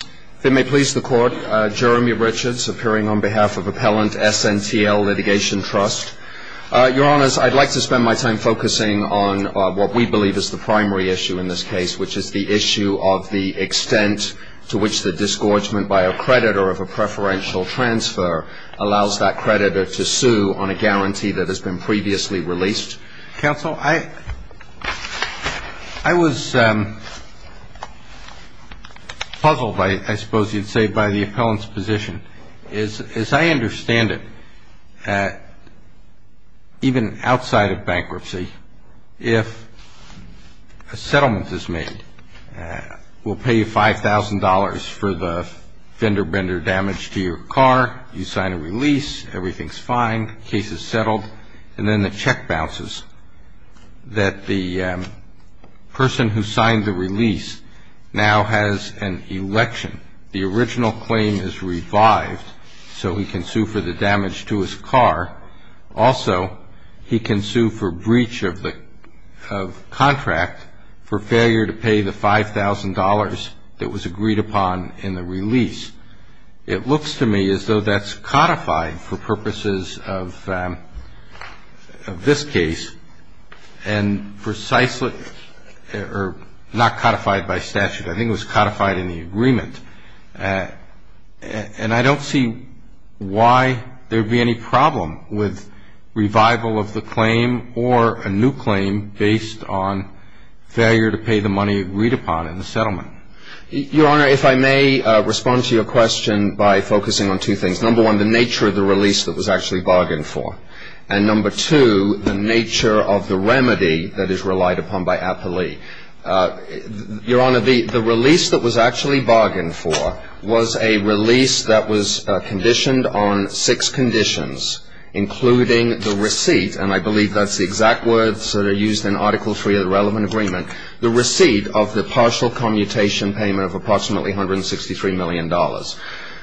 If it may please the Court, Jeremy Richards, appearing on behalf of Appellant SNTL Litigation Trust. Your Honours, I'd like to spend my time focusing on what we believe is the primary issue in this case, which is the issue of the extent to which the disgorgement by a creditor of a preferential transfer allows that creditor to sue on a guarantee that has been previously released. Your Honours, counsel, I was puzzled, I suppose you'd say, by the appellant's position. As I understand it, even outside of bankruptcy, if a settlement is made, we'll pay you $5,000 for the fender-bender damage to your car, you sign a release, everything's fine, the case is settled, and then the check bounces that the person who signed the release now has an election. The original claim is revived, so he can sue for the damage to his car. Also, he can sue for breach of contract for failure to pay the $5,000 that was agreed upon in the release. It looks to me as though that's codified for purposes of this case, and precisely or not codified by statute. I think it was codified in the agreement. And I don't see why there would be any problem with revival of the claim or a new claim based on failure to pay the money agreed upon in the settlement. Your Honour, if I may respond to your question by focusing on two things. Number one, the nature of the release that was actually bargained for. And number two, the nature of the remedy that is relied upon by appellee. Your Honour, the release that was actually bargained for was a release that was conditioned on six conditions, including the receipt, and I believe that's the exact words that are used in Article III of the relevant agreement, the receipt of the partial commutation payment of approximately $163 million.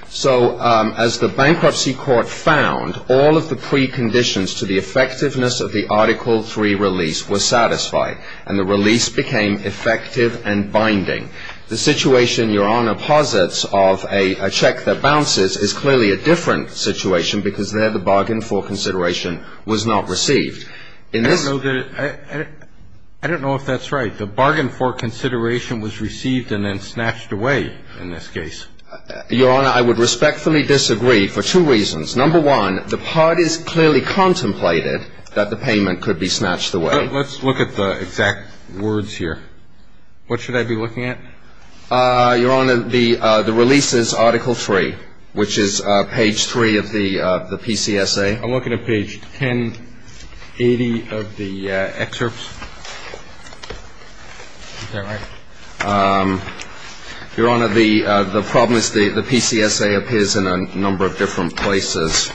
So as the Bankruptcy Court found, all of the preconditions to the effectiveness of the Article III release were satisfied, and the release became effective and binding. The situation, Your Honour, posits of a check that bounces is clearly a different situation because there the bargain for consideration was not received. I don't know if that's right. The bargain for consideration was received and then snatched away in this case. Your Honour, I would respectfully disagree for two reasons. Number one, the parties clearly contemplated that the payment could be snatched away. Let's look at the exact words here. What should I be looking at? Your Honour, the release is Article III, which is page 3 of the PCSA. I'm looking at page 1080 of the excerpts. Is that right? Your Honour, the problem is the PCSA appears in a number of different places.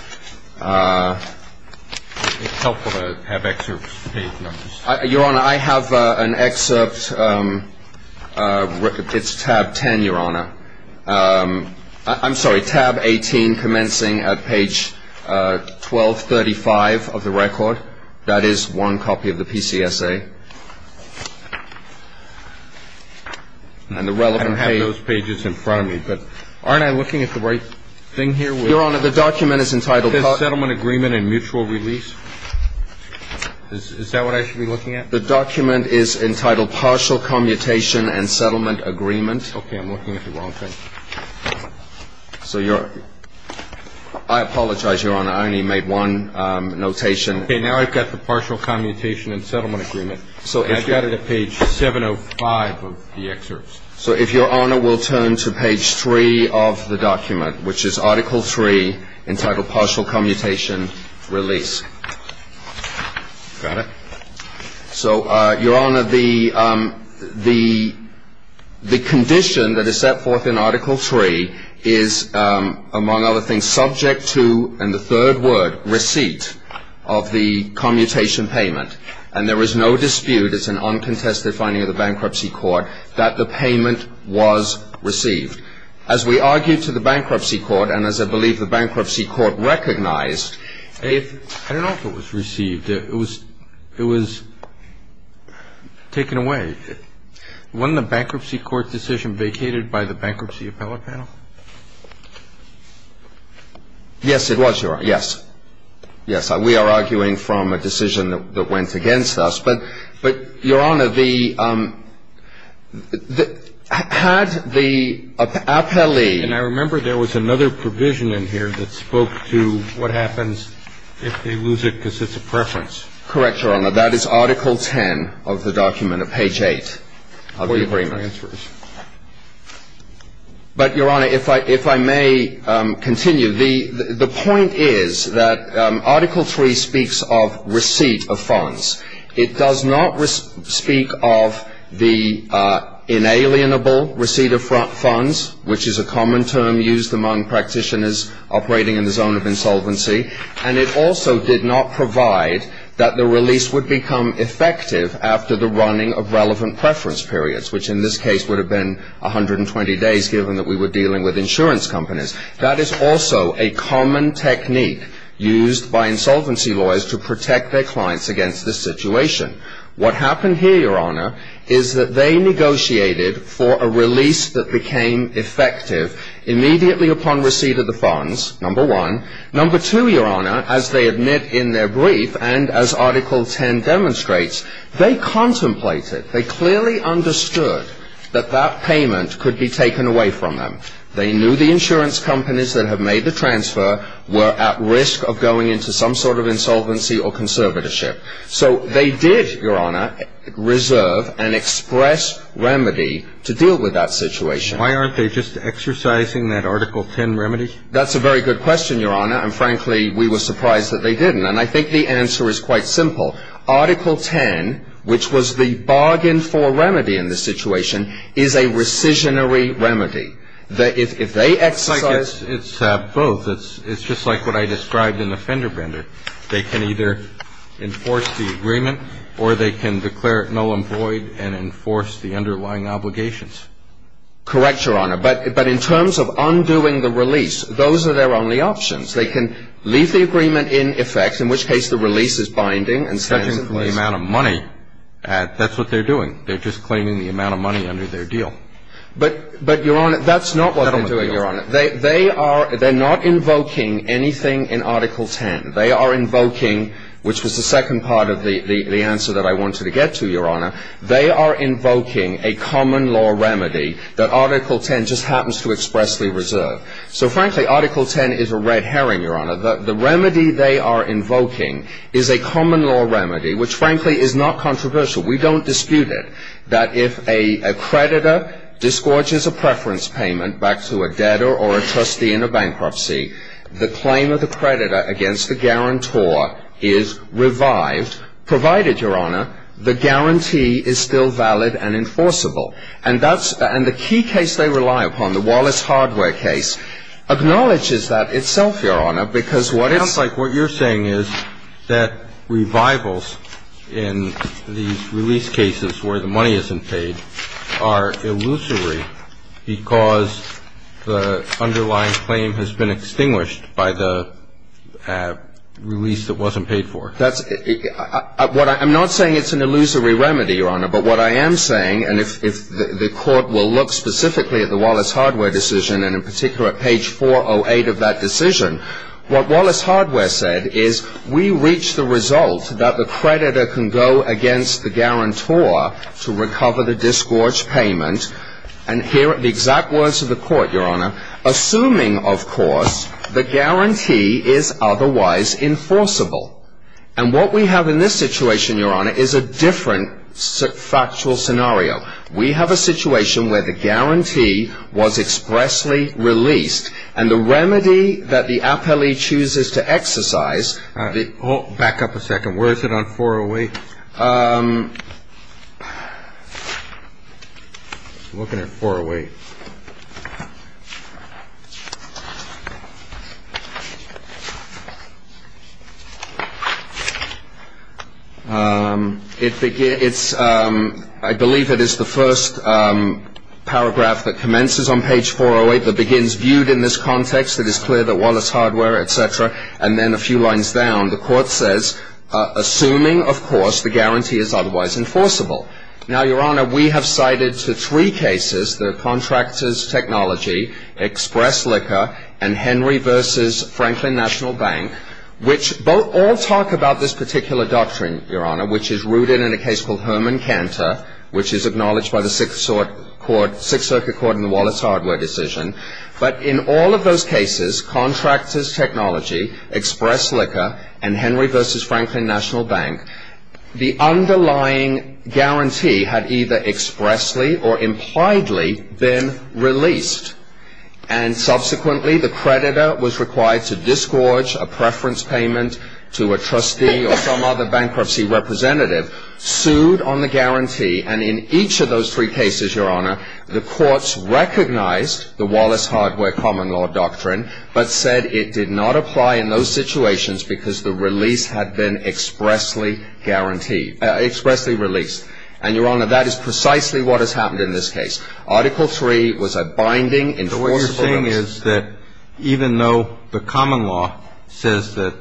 It's helpful to have excerpts, page numbers. Your Honour, I have an excerpt. It's tab 10, Your Honour. I'm sorry, tab 18, commencing at page 1235 of the record. That is one copy of the PCSA. And the relevant page. I don't have those pages in front of me, but aren't I looking at the right thing here? Your Honour, the document is entitled Partial Commutation and Settlement Agreement. Is that what I should be looking at? The document is entitled Partial Commutation and Settlement Agreement. Okay, I'm looking at the wrong thing. I apologize, Your Honour. I only made one notation. Okay, now I've got the Partial Commutation and Settlement Agreement. I've got it at page 705 of the excerpts. So if Your Honour will turn to page 3 of the document, which is Article III, entitled Partial Commutation Release. Got it. So, Your Honour, the condition that is set forth in Article III is, among other things, subject to, in the third word, receipt of the commutation payment. And there is no dispute, it's an uncontested finding of the Bankruptcy Court, that the payment was received. As we argue to the Bankruptcy Court, and as I believe the Bankruptcy Court recognized, I don't know if it was received. It was taken away. Wasn't the Bankruptcy Court decision vacated by the Bankruptcy Appellate Panel? Yes, it was, Your Honour, yes. Yes, we are arguing from a decision that went against us. But, Your Honour, the – had the appellee – And I remember there was another provision in here that spoke to what happens if they lose it because it's a preference. Correct, Your Honour. That is Article X of the document at page 8 of the agreement. But, Your Honour, if I may continue, the point is that Article III speaks of receipt of funds. It does not speak of the inalienable receipt of funds, which is a common term used among practitioners operating in the zone of insolvency. And it also did not provide that the release would become effective after the running of relevant preference periods, which in this case would have been 120 days, given that we were dealing with insurance companies. That is also a common technique used by insolvency lawyers to protect their clients against this situation. What happened here, Your Honour, is that they negotiated for a release that became effective immediately upon receipt of the funds, number one. Number two, Your Honour, as they admit in their brief and as Article X demonstrates, they contemplated, they clearly understood that that payment could be taken away from them. They knew the insurance companies that have made the transfer were at risk of going into some sort of insolvency or conservatorship. So they did, Your Honour, reserve an express remedy to deal with that situation. Why aren't they just exercising that Article X remedy? That's a very good question, Your Honour, and frankly, we were surprised that they didn't. And I think the answer is quite simple. Article X, which was the bargain for remedy in this situation, is a rescissionary remedy. If they exercise It's both. It's just like what I described in the fender bender. They can either enforce the agreement or they can declare it null and void and enforce the underlying obligations. Correct, Your Honour. But in terms of undoing the release, those are their only options. They can leave the agreement in effect, in which case the release is binding and such and such And the amount of money, that's what they're doing. They're just claiming the amount of money under their deal. But, Your Honour, that's not what they're doing, Your Honour. They're not invoking anything in Article X. They are invoking, which was the second part of the answer that I wanted to get to, Your Honour, they are invoking a common law remedy that Article X just happens to expressly reserve. So frankly, Article X is a red herring, Your Honour. The remedy they are invoking is a common law remedy, which frankly is not controversial. We don't dispute it. That if a creditor disgorges a preference payment back to a debtor or a trustee in a bankruptcy, the claim of the creditor against the guarantor is revived, provided, Your Honour, the guarantee is still valid and enforceable. And the key case they rely upon, the Wallace hardware case, acknowledges that itself, Your Honour, because what it's I feel like what you're saying is that revivals in these release cases where the money isn't paid are illusory because the underlying claim has been extinguished by the release that wasn't paid for. I'm not saying it's an illusory remedy, Your Honour, but what I am saying, and if the Court will look specifically at the Wallace hardware decision, and in particular at page 408 of that decision, what Wallace hardware said is we reach the result that the creditor can go against the guarantor to recover the disgorged payment and hear the exact words of the Court, Your Honour, assuming, of course, the guarantee is otherwise enforceable. And what we have in this situation, Your Honour, is a different factual scenario. We have a situation where the guarantee was expressly released, and the remedy that the appellee chooses to exercise Back up a second. Where is it on 408? I'm looking at 408. I believe it is the first paragraph that commences on page 408 that begins, Viewed in this context, it is clear that Wallace hardware, et cetera, and then a few lines down, the Court says, assuming, of course, the guarantee is otherwise enforceable. Now, Your Honour, we have cited to three cases, the Contractors Technology, Express Liquor, and Henry v. Franklin National Bank, which all talk about this particular doctrine, Your Honour, which is rooted in a case called Herman Cantor, which is acknowledged by the Sixth Circuit Court in the Wallace hardware decision. But in all of those cases, Contractors Technology, Express Liquor, and Henry v. Franklin National Bank, the underlying guarantee had either expressly or impliedly been released. And subsequently, the creditor was required to disgorge a preference payment to a trustee or some other bankruptcy representative, sued on the guarantee, and in each of those three cases, Your Honour, the courts recognized the Wallace hardware common law doctrine, but said it did not apply in those situations because the release had been expressly guaranteed, expressly released. And, Your Honour, that is precisely what has happened in this case. Article III was a binding, enforceable doctrine. But what you're saying is that even though the common law says that,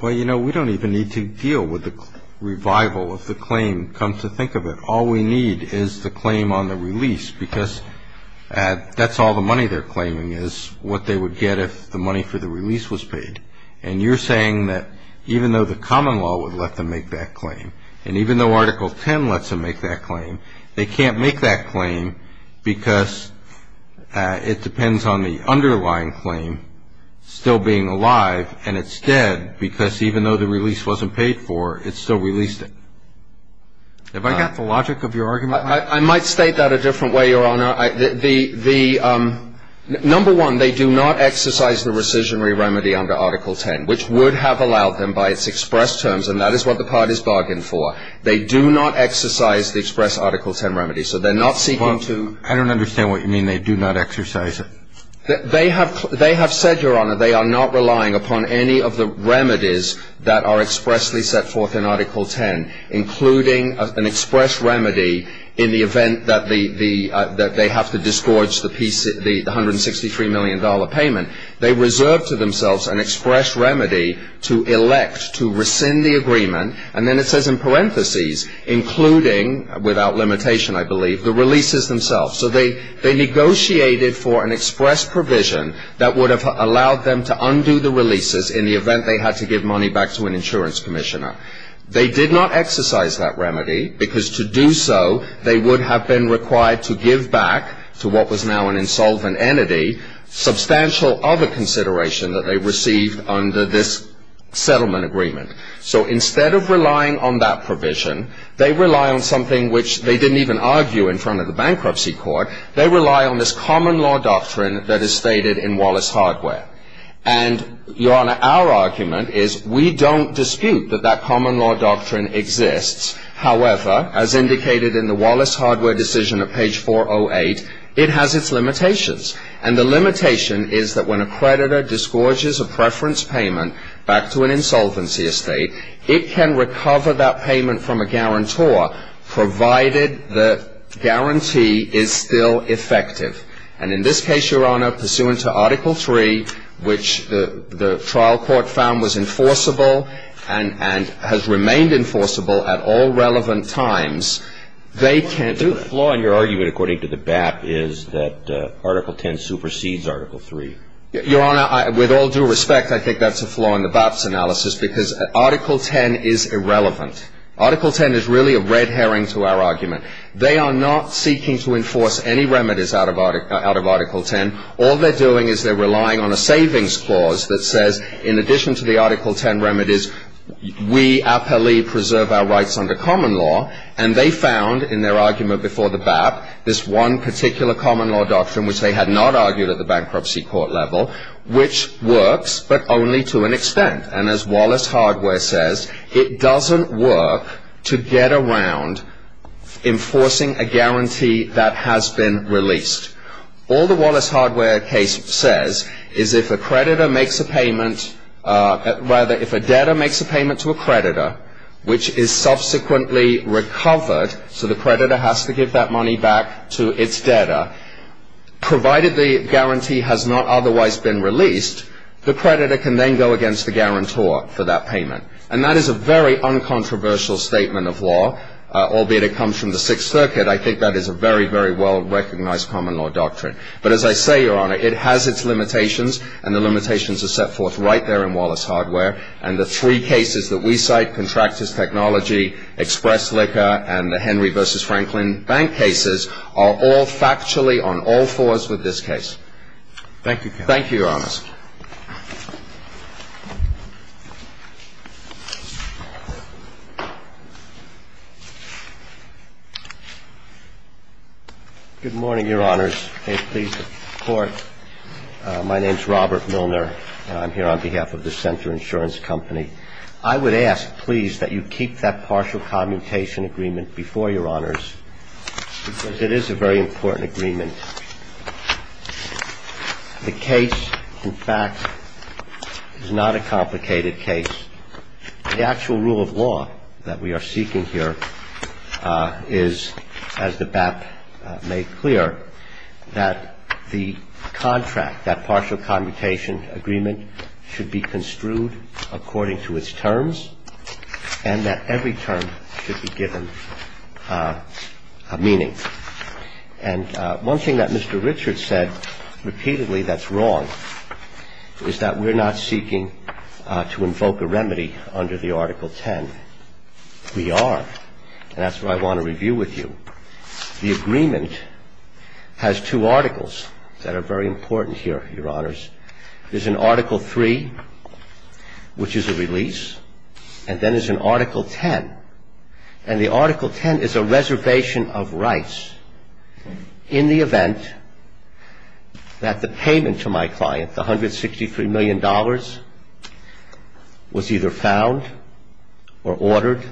well, you know, we don't even need to deal with the revival of the claim, come to think of it. All we need is the claim on the release because that's all the money they're claiming is, what they would get if the money for the release was paid. And you're saying that even though the common law would let them make that claim, and even though Article X lets them make that claim, they can't make that claim because it depends on the underlying claim still being alive, and it's dead because even though the release wasn't paid for, it still released it. Have I got the logic of your argument? I might state that a different way, Your Honour. Number one, they do not exercise the rescissionary remedy under Article X, which would have allowed them by its express terms, and that is what the parties bargained for. They do not exercise the express Article X remedy, so they're not seeking to – I don't understand what you mean, they do not exercise it. They have said, Your Honour, they are not relying upon any of the remedies that are expressly set forth in Article X, including an express remedy in the event that they have to disgorge the $163 million payment. They reserve to themselves an express remedy to elect to rescind the agreement, and then it says in parentheses, including, without limitation, I believe, the releases themselves. So they negotiated for an express provision that would have allowed them to undo the releases in the event they had to give money back to an insurance commissioner. They did not exercise that remedy, because to do so, they would have been required to give back to what was now an insolvent entity, substantial other consideration that they received under this settlement agreement. So instead of relying on that provision, they rely on something which they didn't even argue in front of the bankruptcy court. They rely on this common law doctrine that is stated in Wallace Hardware. And, Your Honour, our argument is we don't dispute that that common law doctrine exists. However, as indicated in the Wallace Hardware decision at page 408, it has its limitations. And the limitation is that when a creditor disgorges a preference payment back to an insolvency estate, it can recover that payment from a guarantor, provided the guarantee is still effective. And in this case, Your Honour, pursuant to Article 3, which the trial court found was enforceable and has remained enforceable at all relevant times, they can't do that. The flaw in your argument according to the BAP is that Article 10 supersedes Article 3. Your Honour, with all due respect, I think that's a flaw in the BAP's analysis, because Article 10 is irrelevant. Article 10 is really a red herring to our argument. They are not seeking to enforce any remedies out of Article 10. All they're doing is they're relying on a savings clause that says, in addition to the Article 10 remedies, we appellee preserve our rights under common law. And they found in their argument before the BAP this one particular common law doctrine, which they had not argued at the bankruptcy court level, which works but only to an extent. And as Wallace Hardware says, it doesn't work to get around enforcing a guarantee that has been released. All the Wallace Hardware case says is if a creditor makes a payment, rather, if a debtor makes a payment to a creditor, which is subsequently recovered, so the creditor has to give that money back to its debtor, provided the guarantee has not otherwise been released, the creditor can then go against the guarantor for that payment. And that is a very uncontroversial statement of law, albeit it comes from the Sixth Circuit. I think that is a very, very well-recognized common law doctrine. But as I say, Your Honour, it has its limitations, and the limitations are set forth right there in Wallace Hardware. And the three cases that we cite, Contractors Technology, Express Liquor, and the Henry v. Franklin Bank cases, are all factually on all fours with this case. Thank you, counsel. Thank you, Your Honours. Good morning, Your Honours. May it please the Court. My name is Robert Milner, and I'm here on behalf of the Center Insurance Company. I would ask, please, that you keep that partial commutation agreement before Your Honours, because it is a very important agreement. The case, in fact, is not a complicated case. The actual rule of law that we are seeking here is, as the BAP made clear, that the contract, that partial commutation agreement should be construed according to its terms and that every term should be given meaning. And one thing that Mr. Richard said repeatedly that's wrong is that we're not seeking to invoke a remedy under the Article 10. We are, and that's what I want to review with you. The agreement has two articles that are very important here, Your Honours. There's an Article 3, which is a release, and then there's an Article 10. And the Article 10 is a reservation of rights in the event that the payment to my client, the $163 million, was either found or ordered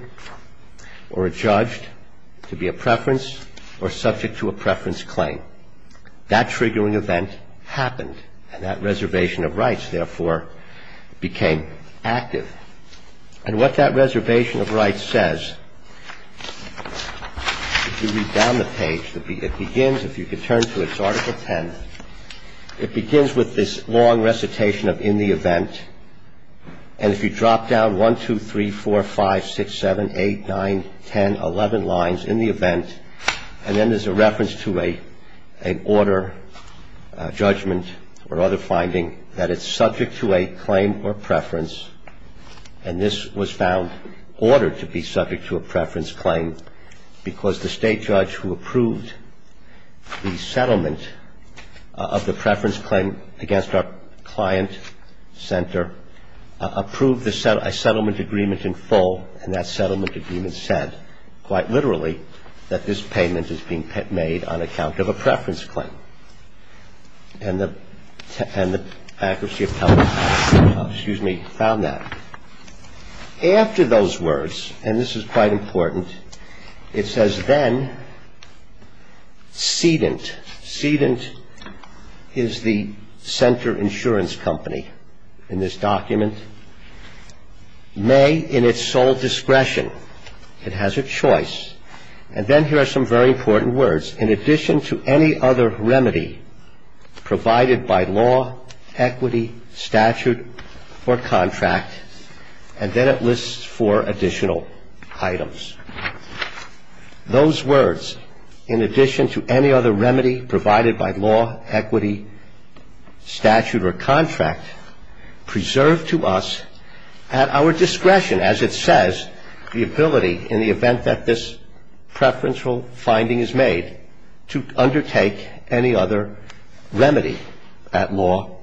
or judged to be a preference or subject to a preference claim. That triggering event happened, and that reservation of rights, therefore, became active. And what that reservation of rights says, if you read down the page, it begins, if you could turn to it, it's Article 10. It begins with this long recitation of in the event, and if you drop down 1, 2, 3, 4, 5, 6, 7, 8, 9, 10, 11 lines in the event, and then there's a reference to an order, judgment, or other finding that it's subject to a claim or preference, and this was found ordered to be subject to a preference claim because the State judge who approved the settlement of the preference claim against our client center approved a settlement agreement in full, and that settlement agreement said, quite literally, that this payment is being made on account of a preference claim. And the accuracy of testimony found that. After those words, and this is quite important, it says, then, sedent. Sedent is the center insurance company in this document. May, in its sole discretion, it has a choice. And then here are some very important words. Those words, in addition to any other remedy provided by law, equity, statute, or contract, and then it lists four additional items. Those words, in addition to any other remedy provided by law, equity, statute, or contract, preserve to us at our discretion, as it says, the ability in the event that this preferential finding is made, to undertake any other remedy at law,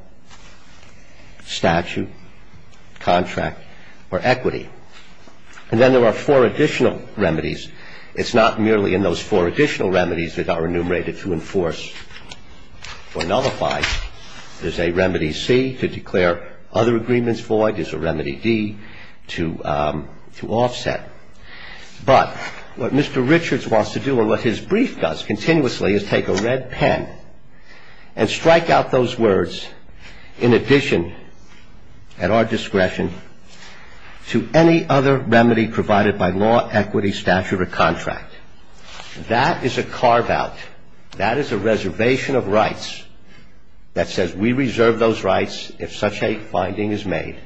statute, contract, or equity. And then there are four additional remedies. It's not merely in those four additional remedies that are enumerated to enforce or nullify. There's a remedy C to declare other agreements void. There's a remedy D to offset. But what Mr. Richards wants to do and what his brief does continuously is take a red pen and strike out those words, in addition, at our discretion, to any other remedy provided by law, equity, statute, or contract. That is a carve-out. That is a reservation of rights that says we reserve those rights if such a finding is made,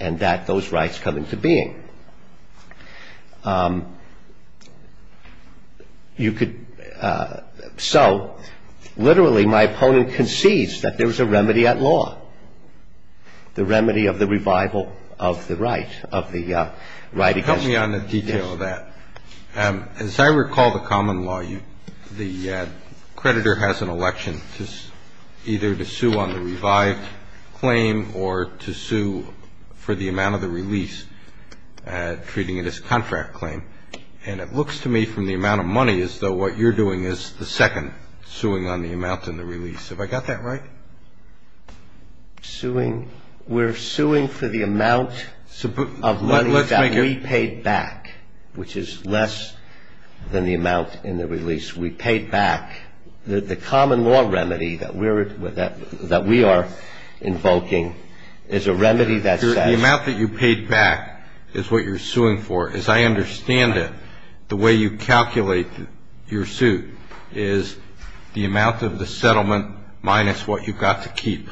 and that those rights come into being. You could so, literally, my opponent concedes that there's a remedy at law, the remedy of the revival of the right, of the right against. Roberts. You're going to ask me on the detail of that. As I recall the common law, the creditor has an election either to sue on the revived claim or to sue for the amount of the release, treating it as a contract claim. And it looks to me from the amount of money as though what you're doing is the second suing on the amount and the release. Have I got that right? Suing? We're suing for the amount of money that we paid back, which is less than the amount in the release. We paid back. The common law remedy that we are invoking is a remedy that says the amount that you paid back is what you're suing for. As I understand it, the way you calculate your suit is the amount of the settlement minus what you've got to keep.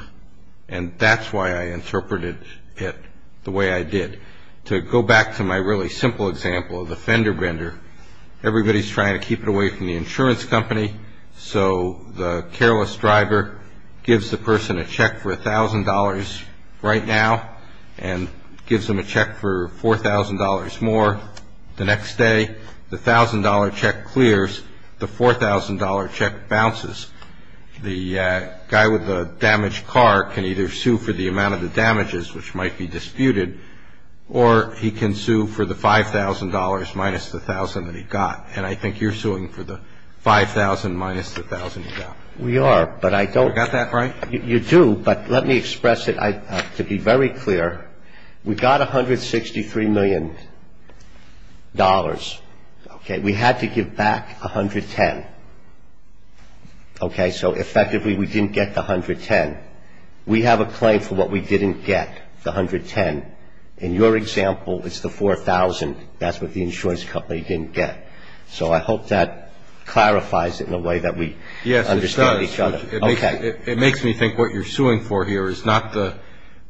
And that's why I interpreted it the way I did. To go back to my really simple example of the fender bender, everybody's trying to keep it away from the insurance company, so the careless driver gives the person a check for $1,000 right now and gives them a check for $4,000 more the next day. The $1,000 check clears. The $4,000 check bounces. The guy with the damaged car can either sue for the amount of the damages, which might be disputed, or he can sue for the $5,000 minus the $1,000 that he got. And I think you're suing for the $5,000 minus the $1,000 you got. We are, but I don't Have I got that right? You do. But let me express it to be very clear. We got $163 million. We had to give back $110 million. So effectively we didn't get the $110 million. We have a claim for what we didn't get, the $110 million. In your example, it's the $4,000. That's what the insurance company didn't get. So I hope that clarifies it in a way that we understand each other. Yes, it does. It makes me think what you're suing for here is not the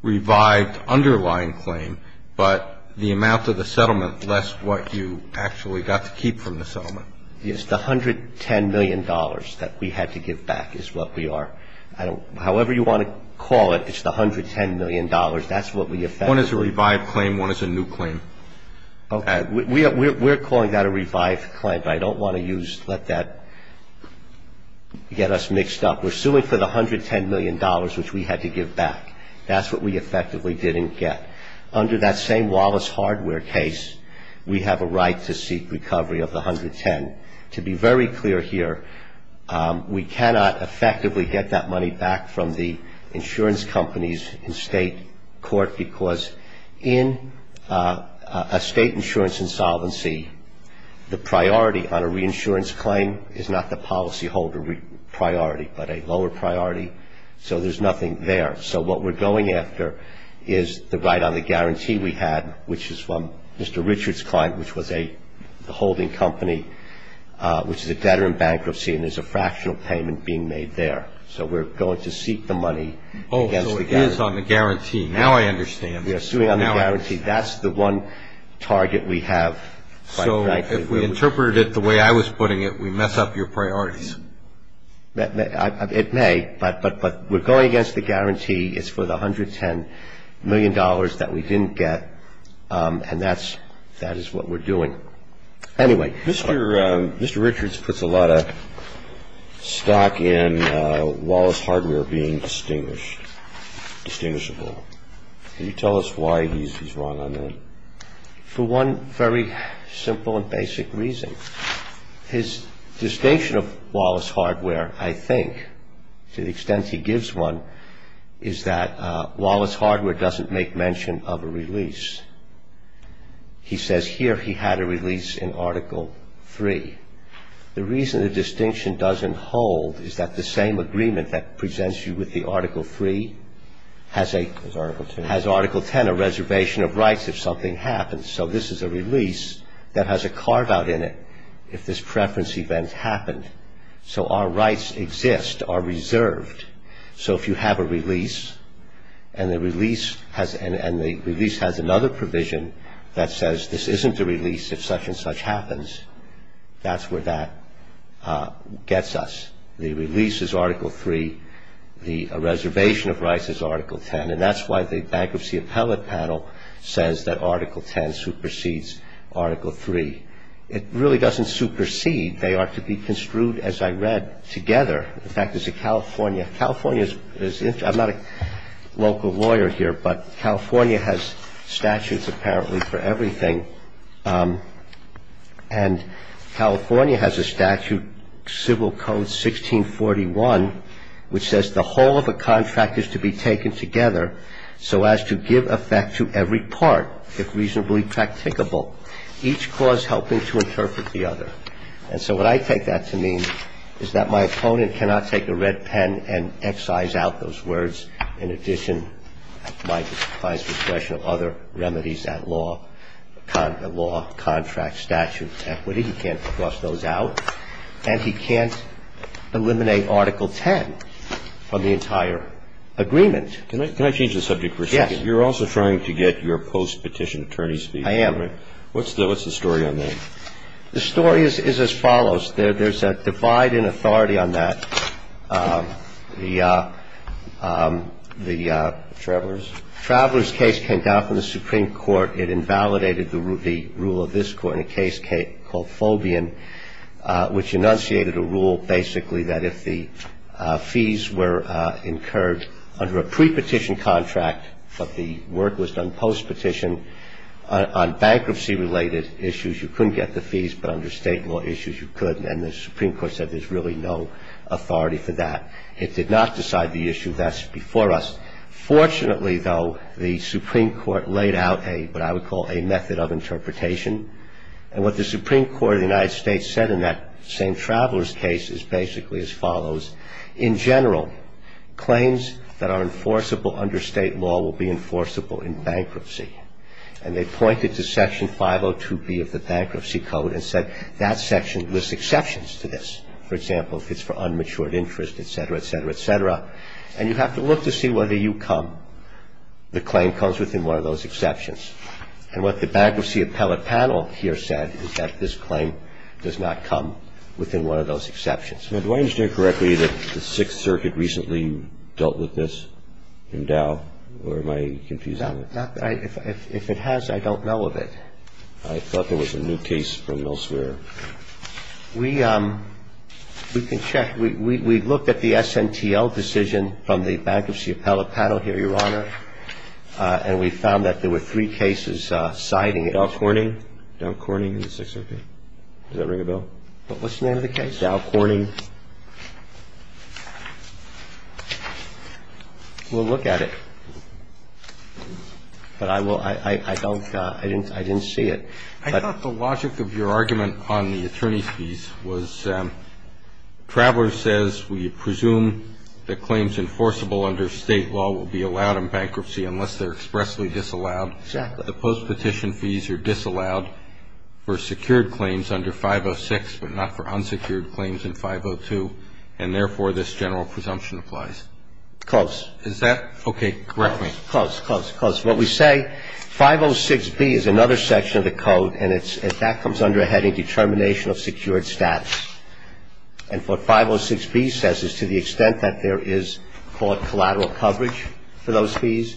revived underlying claim, but the amount of the settlement less what you actually got to keep from the settlement. Yes, the $110 million that we had to give back is what we are. However you want to call it, it's the $110 million. That's what we effectively One is a revived claim. One is a new claim. Okay. We're calling that a revived claim, but I don't want to use, let that get us mixed up. We're suing for the $110 million which we had to give back. That's what we effectively didn't get. Under that same Wallace Hardware case, we have a right to seek recovery of the $110. To be very clear here, we cannot effectively get that money back from the insurance companies in state court because in a state insurance insolvency, the priority on a reinsurance claim is not the policyholder priority, but a lower priority. So there's nothing there. So what we're going after is the right on the guarantee we had, which is from Mr. Richards' client, which was a holding company, which is a debtor in bankruptcy, and there's a fractional payment being made there. So we're going to seek the money against the debtor. Oh, so it is on the guarantee. Now I understand. We are suing on the guarantee. That's the one target we have, quite frankly. So if we interpreted it the way I was putting it, we mess up your priorities. It may, but we're going against the guarantee. It's for the $110 million that we didn't get, and that is what we're doing. Anyway. Mr. Richards puts a lot of stock in Wallace Hardware being distinguished, distinguishable. Can you tell us why he's wrong on that? For one very simple and basic reason. His distinction of Wallace Hardware, I think, to the extent he gives one, is that Wallace Hardware doesn't make mention of a release. He says here he had a release in Article III. The reason the distinction doesn't hold is that the same agreement that presents you with the Article III has a Has Article X. Has Article X, a reservation of rights if something happens. So this is a release that has a carve-out in it if this preference event happened. So our rights exist, are reserved. So if you have a release, and the release has another provision that says this isn't a release if such and such happens, that's where that gets us. The release is Article III. The reservation of rights is Article X. And that's why the Bankruptcy Appellate Panel says that Article X supersedes Article III. It really doesn't supersede. They are to be construed, as I read, together. In fact, as a California – California is – I'm not a local lawyer here, but California has statutes apparently for everything. And California has a statute, Civil Code 1641, which says the whole of a contract is to be taken together so as to give effect to every part, if reasonably practicable, each clause helping to interpret the other. And so what I take that to mean is that my opponent cannot take a red pen and excise out those words in addition, at my client's discretion, of other remedies at law – law, contract, statute, equity. He can't cross those out. And he can't eliminate Article X from the entire agreement. Can I change the subject for a second? Yes. You're also trying to get your post-petition attorney's fee. I am. What's the story on that? The story is as follows. There's a divide in authority on that. The Travelers case came down from the Supreme Court. It invalidated the rule of this Court in a case called Fobian, which enunciated a rule, basically, that if the fees were incurred under a pre-petition contract, but the work was done post-petition, on bankruptcy-related issues you couldn't get the fees, but under state law issues you could. And the Supreme Court said there's really no authority for that. It did not decide the issue. That's before us. Fortunately, though, the Supreme Court laid out what I would call a method of interpretation. And what the Supreme Court of the United States said in that same Travelers case is basically as follows. In general, claims that are enforceable under state law will be enforceable in bankruptcy. And they pointed to Section 502B of the Bankruptcy Code and said that section lists exceptions to this. For example, if it's for unmatured interest, et cetera, et cetera, et cetera. And you have to look to see whether you come, the claim comes within one of those exceptions. And what the Bankruptcy Appellate Panel here said is that this claim does not come within one of those exceptions. Now, do I understand correctly that the Sixth Circuit recently dealt with this in Dow? Or am I confusing it? If it has, I don't know of it. I thought there was a new case from Millsphere. We can check. We looked at the SNTL decision from the Bankruptcy Appellate Panel here, Your Honor. And we found that there were three cases citing it. Dow Corning. Dow Corning and the Sixth Circuit. Does that ring a bell? What's the name of the case? Dow Corning. We'll look at it. But I will – I don't – I didn't see it. I thought the logic of your argument on the attorney's fees was Traveler says we presume that claims enforceable under State law will be allowed in bankruptcy unless they're expressly disallowed. Exactly. The postpetition fees are disallowed for secured claims under 506, but not for unsecured claims in 502, and therefore this general presumption applies. Close. Is that – okay. Correct me. Close. Close. Close. What we say, 506B is another section of the code, and it's – that comes under a heading Determination of Secured Status. And what 506B says is to the extent that there is, call it collateral coverage for those fees,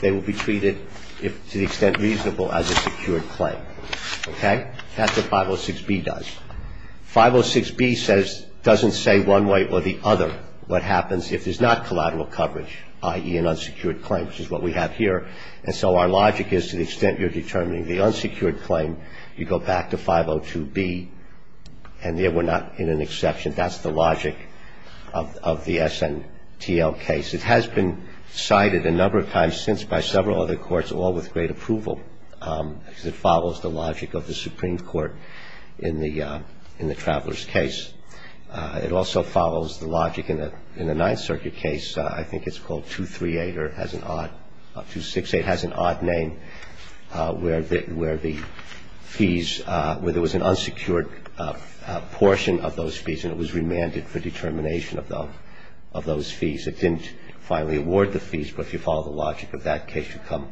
they will be treated, to the extent reasonable, as a secured claim. Okay? That's what 506B does. 506B says – doesn't say one way or the other what happens if there's not collateral coverage, i.e., an unsecured claim, which is what we have here. And so our logic is to the extent you're determining the unsecured claim, you go back to 502B, and there we're not in an exception. That's the logic of the SNTL case. It has been cited a number of times since by several other courts, all with great approval, because it follows the logic of the Supreme Court in the Traveler's case. It also follows the logic in the Ninth Circuit case. I think it's called 238 or has an odd – 268 has an odd name, where the fees – where there was an unsecured portion of those fees and it was remanded for determination of those fees. It didn't finally award the fees, but if you follow the logic of that case, you come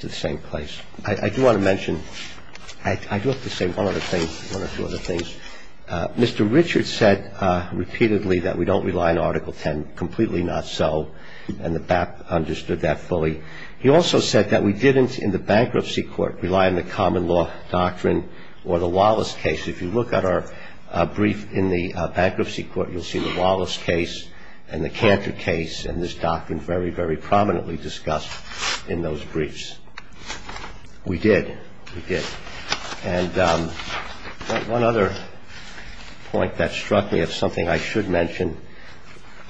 to the same place. I do want to mention – I do have to say one other thing, one or two other things. Mr. Richard said repeatedly that we don't rely on Article 10. Completely not so, and the BAP understood that fully. He also said that we didn't, in the Bankruptcy Court, rely on the Common Law Doctrine or the Wallace case. If you look at our brief in the Bankruptcy Court, you'll see the Wallace case and the Cantor case and this doctrine very, very prominently discussed in those briefs. We did. We did. And one other point that struck me of something I should mention,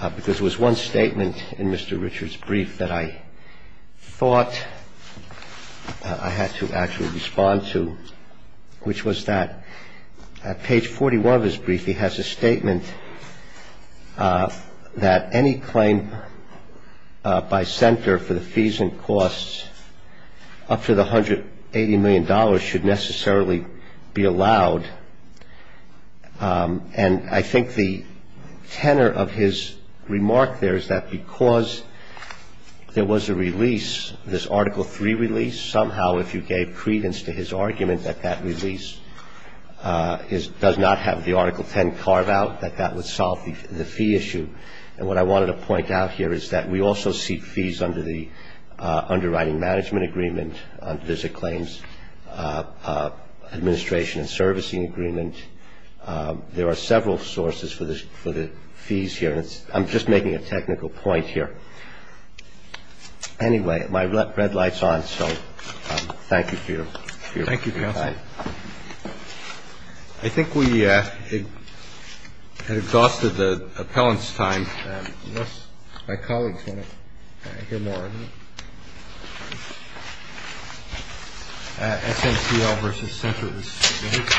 because there was one statement in Mr. Richard's brief that I thought I had to actually respond to, which was that at page 41 of his brief, he has a statement that any claim by center for the fees and costs up to the $180 million should necessarily be allowed. And I think the tenor of his remark there is that because there was a release, this Article 3 release, somehow if you gave credence to his argument that that release does not have the Article 10 carve out, that that would solve the fee issue. And what I wanted to point out here is that we also seek fees under the Underwriting Management Agreement, under the Claims Administration and Servicing Agreement. There are several sources for the fees here. I'm just making a technical point here. Anyway, my red light's on, so thank you for your briefing. Thank you, counsel. I think we have exhausted the appellant's time. Unless my colleagues want to hear more. SNPL v. Centers. Thank you.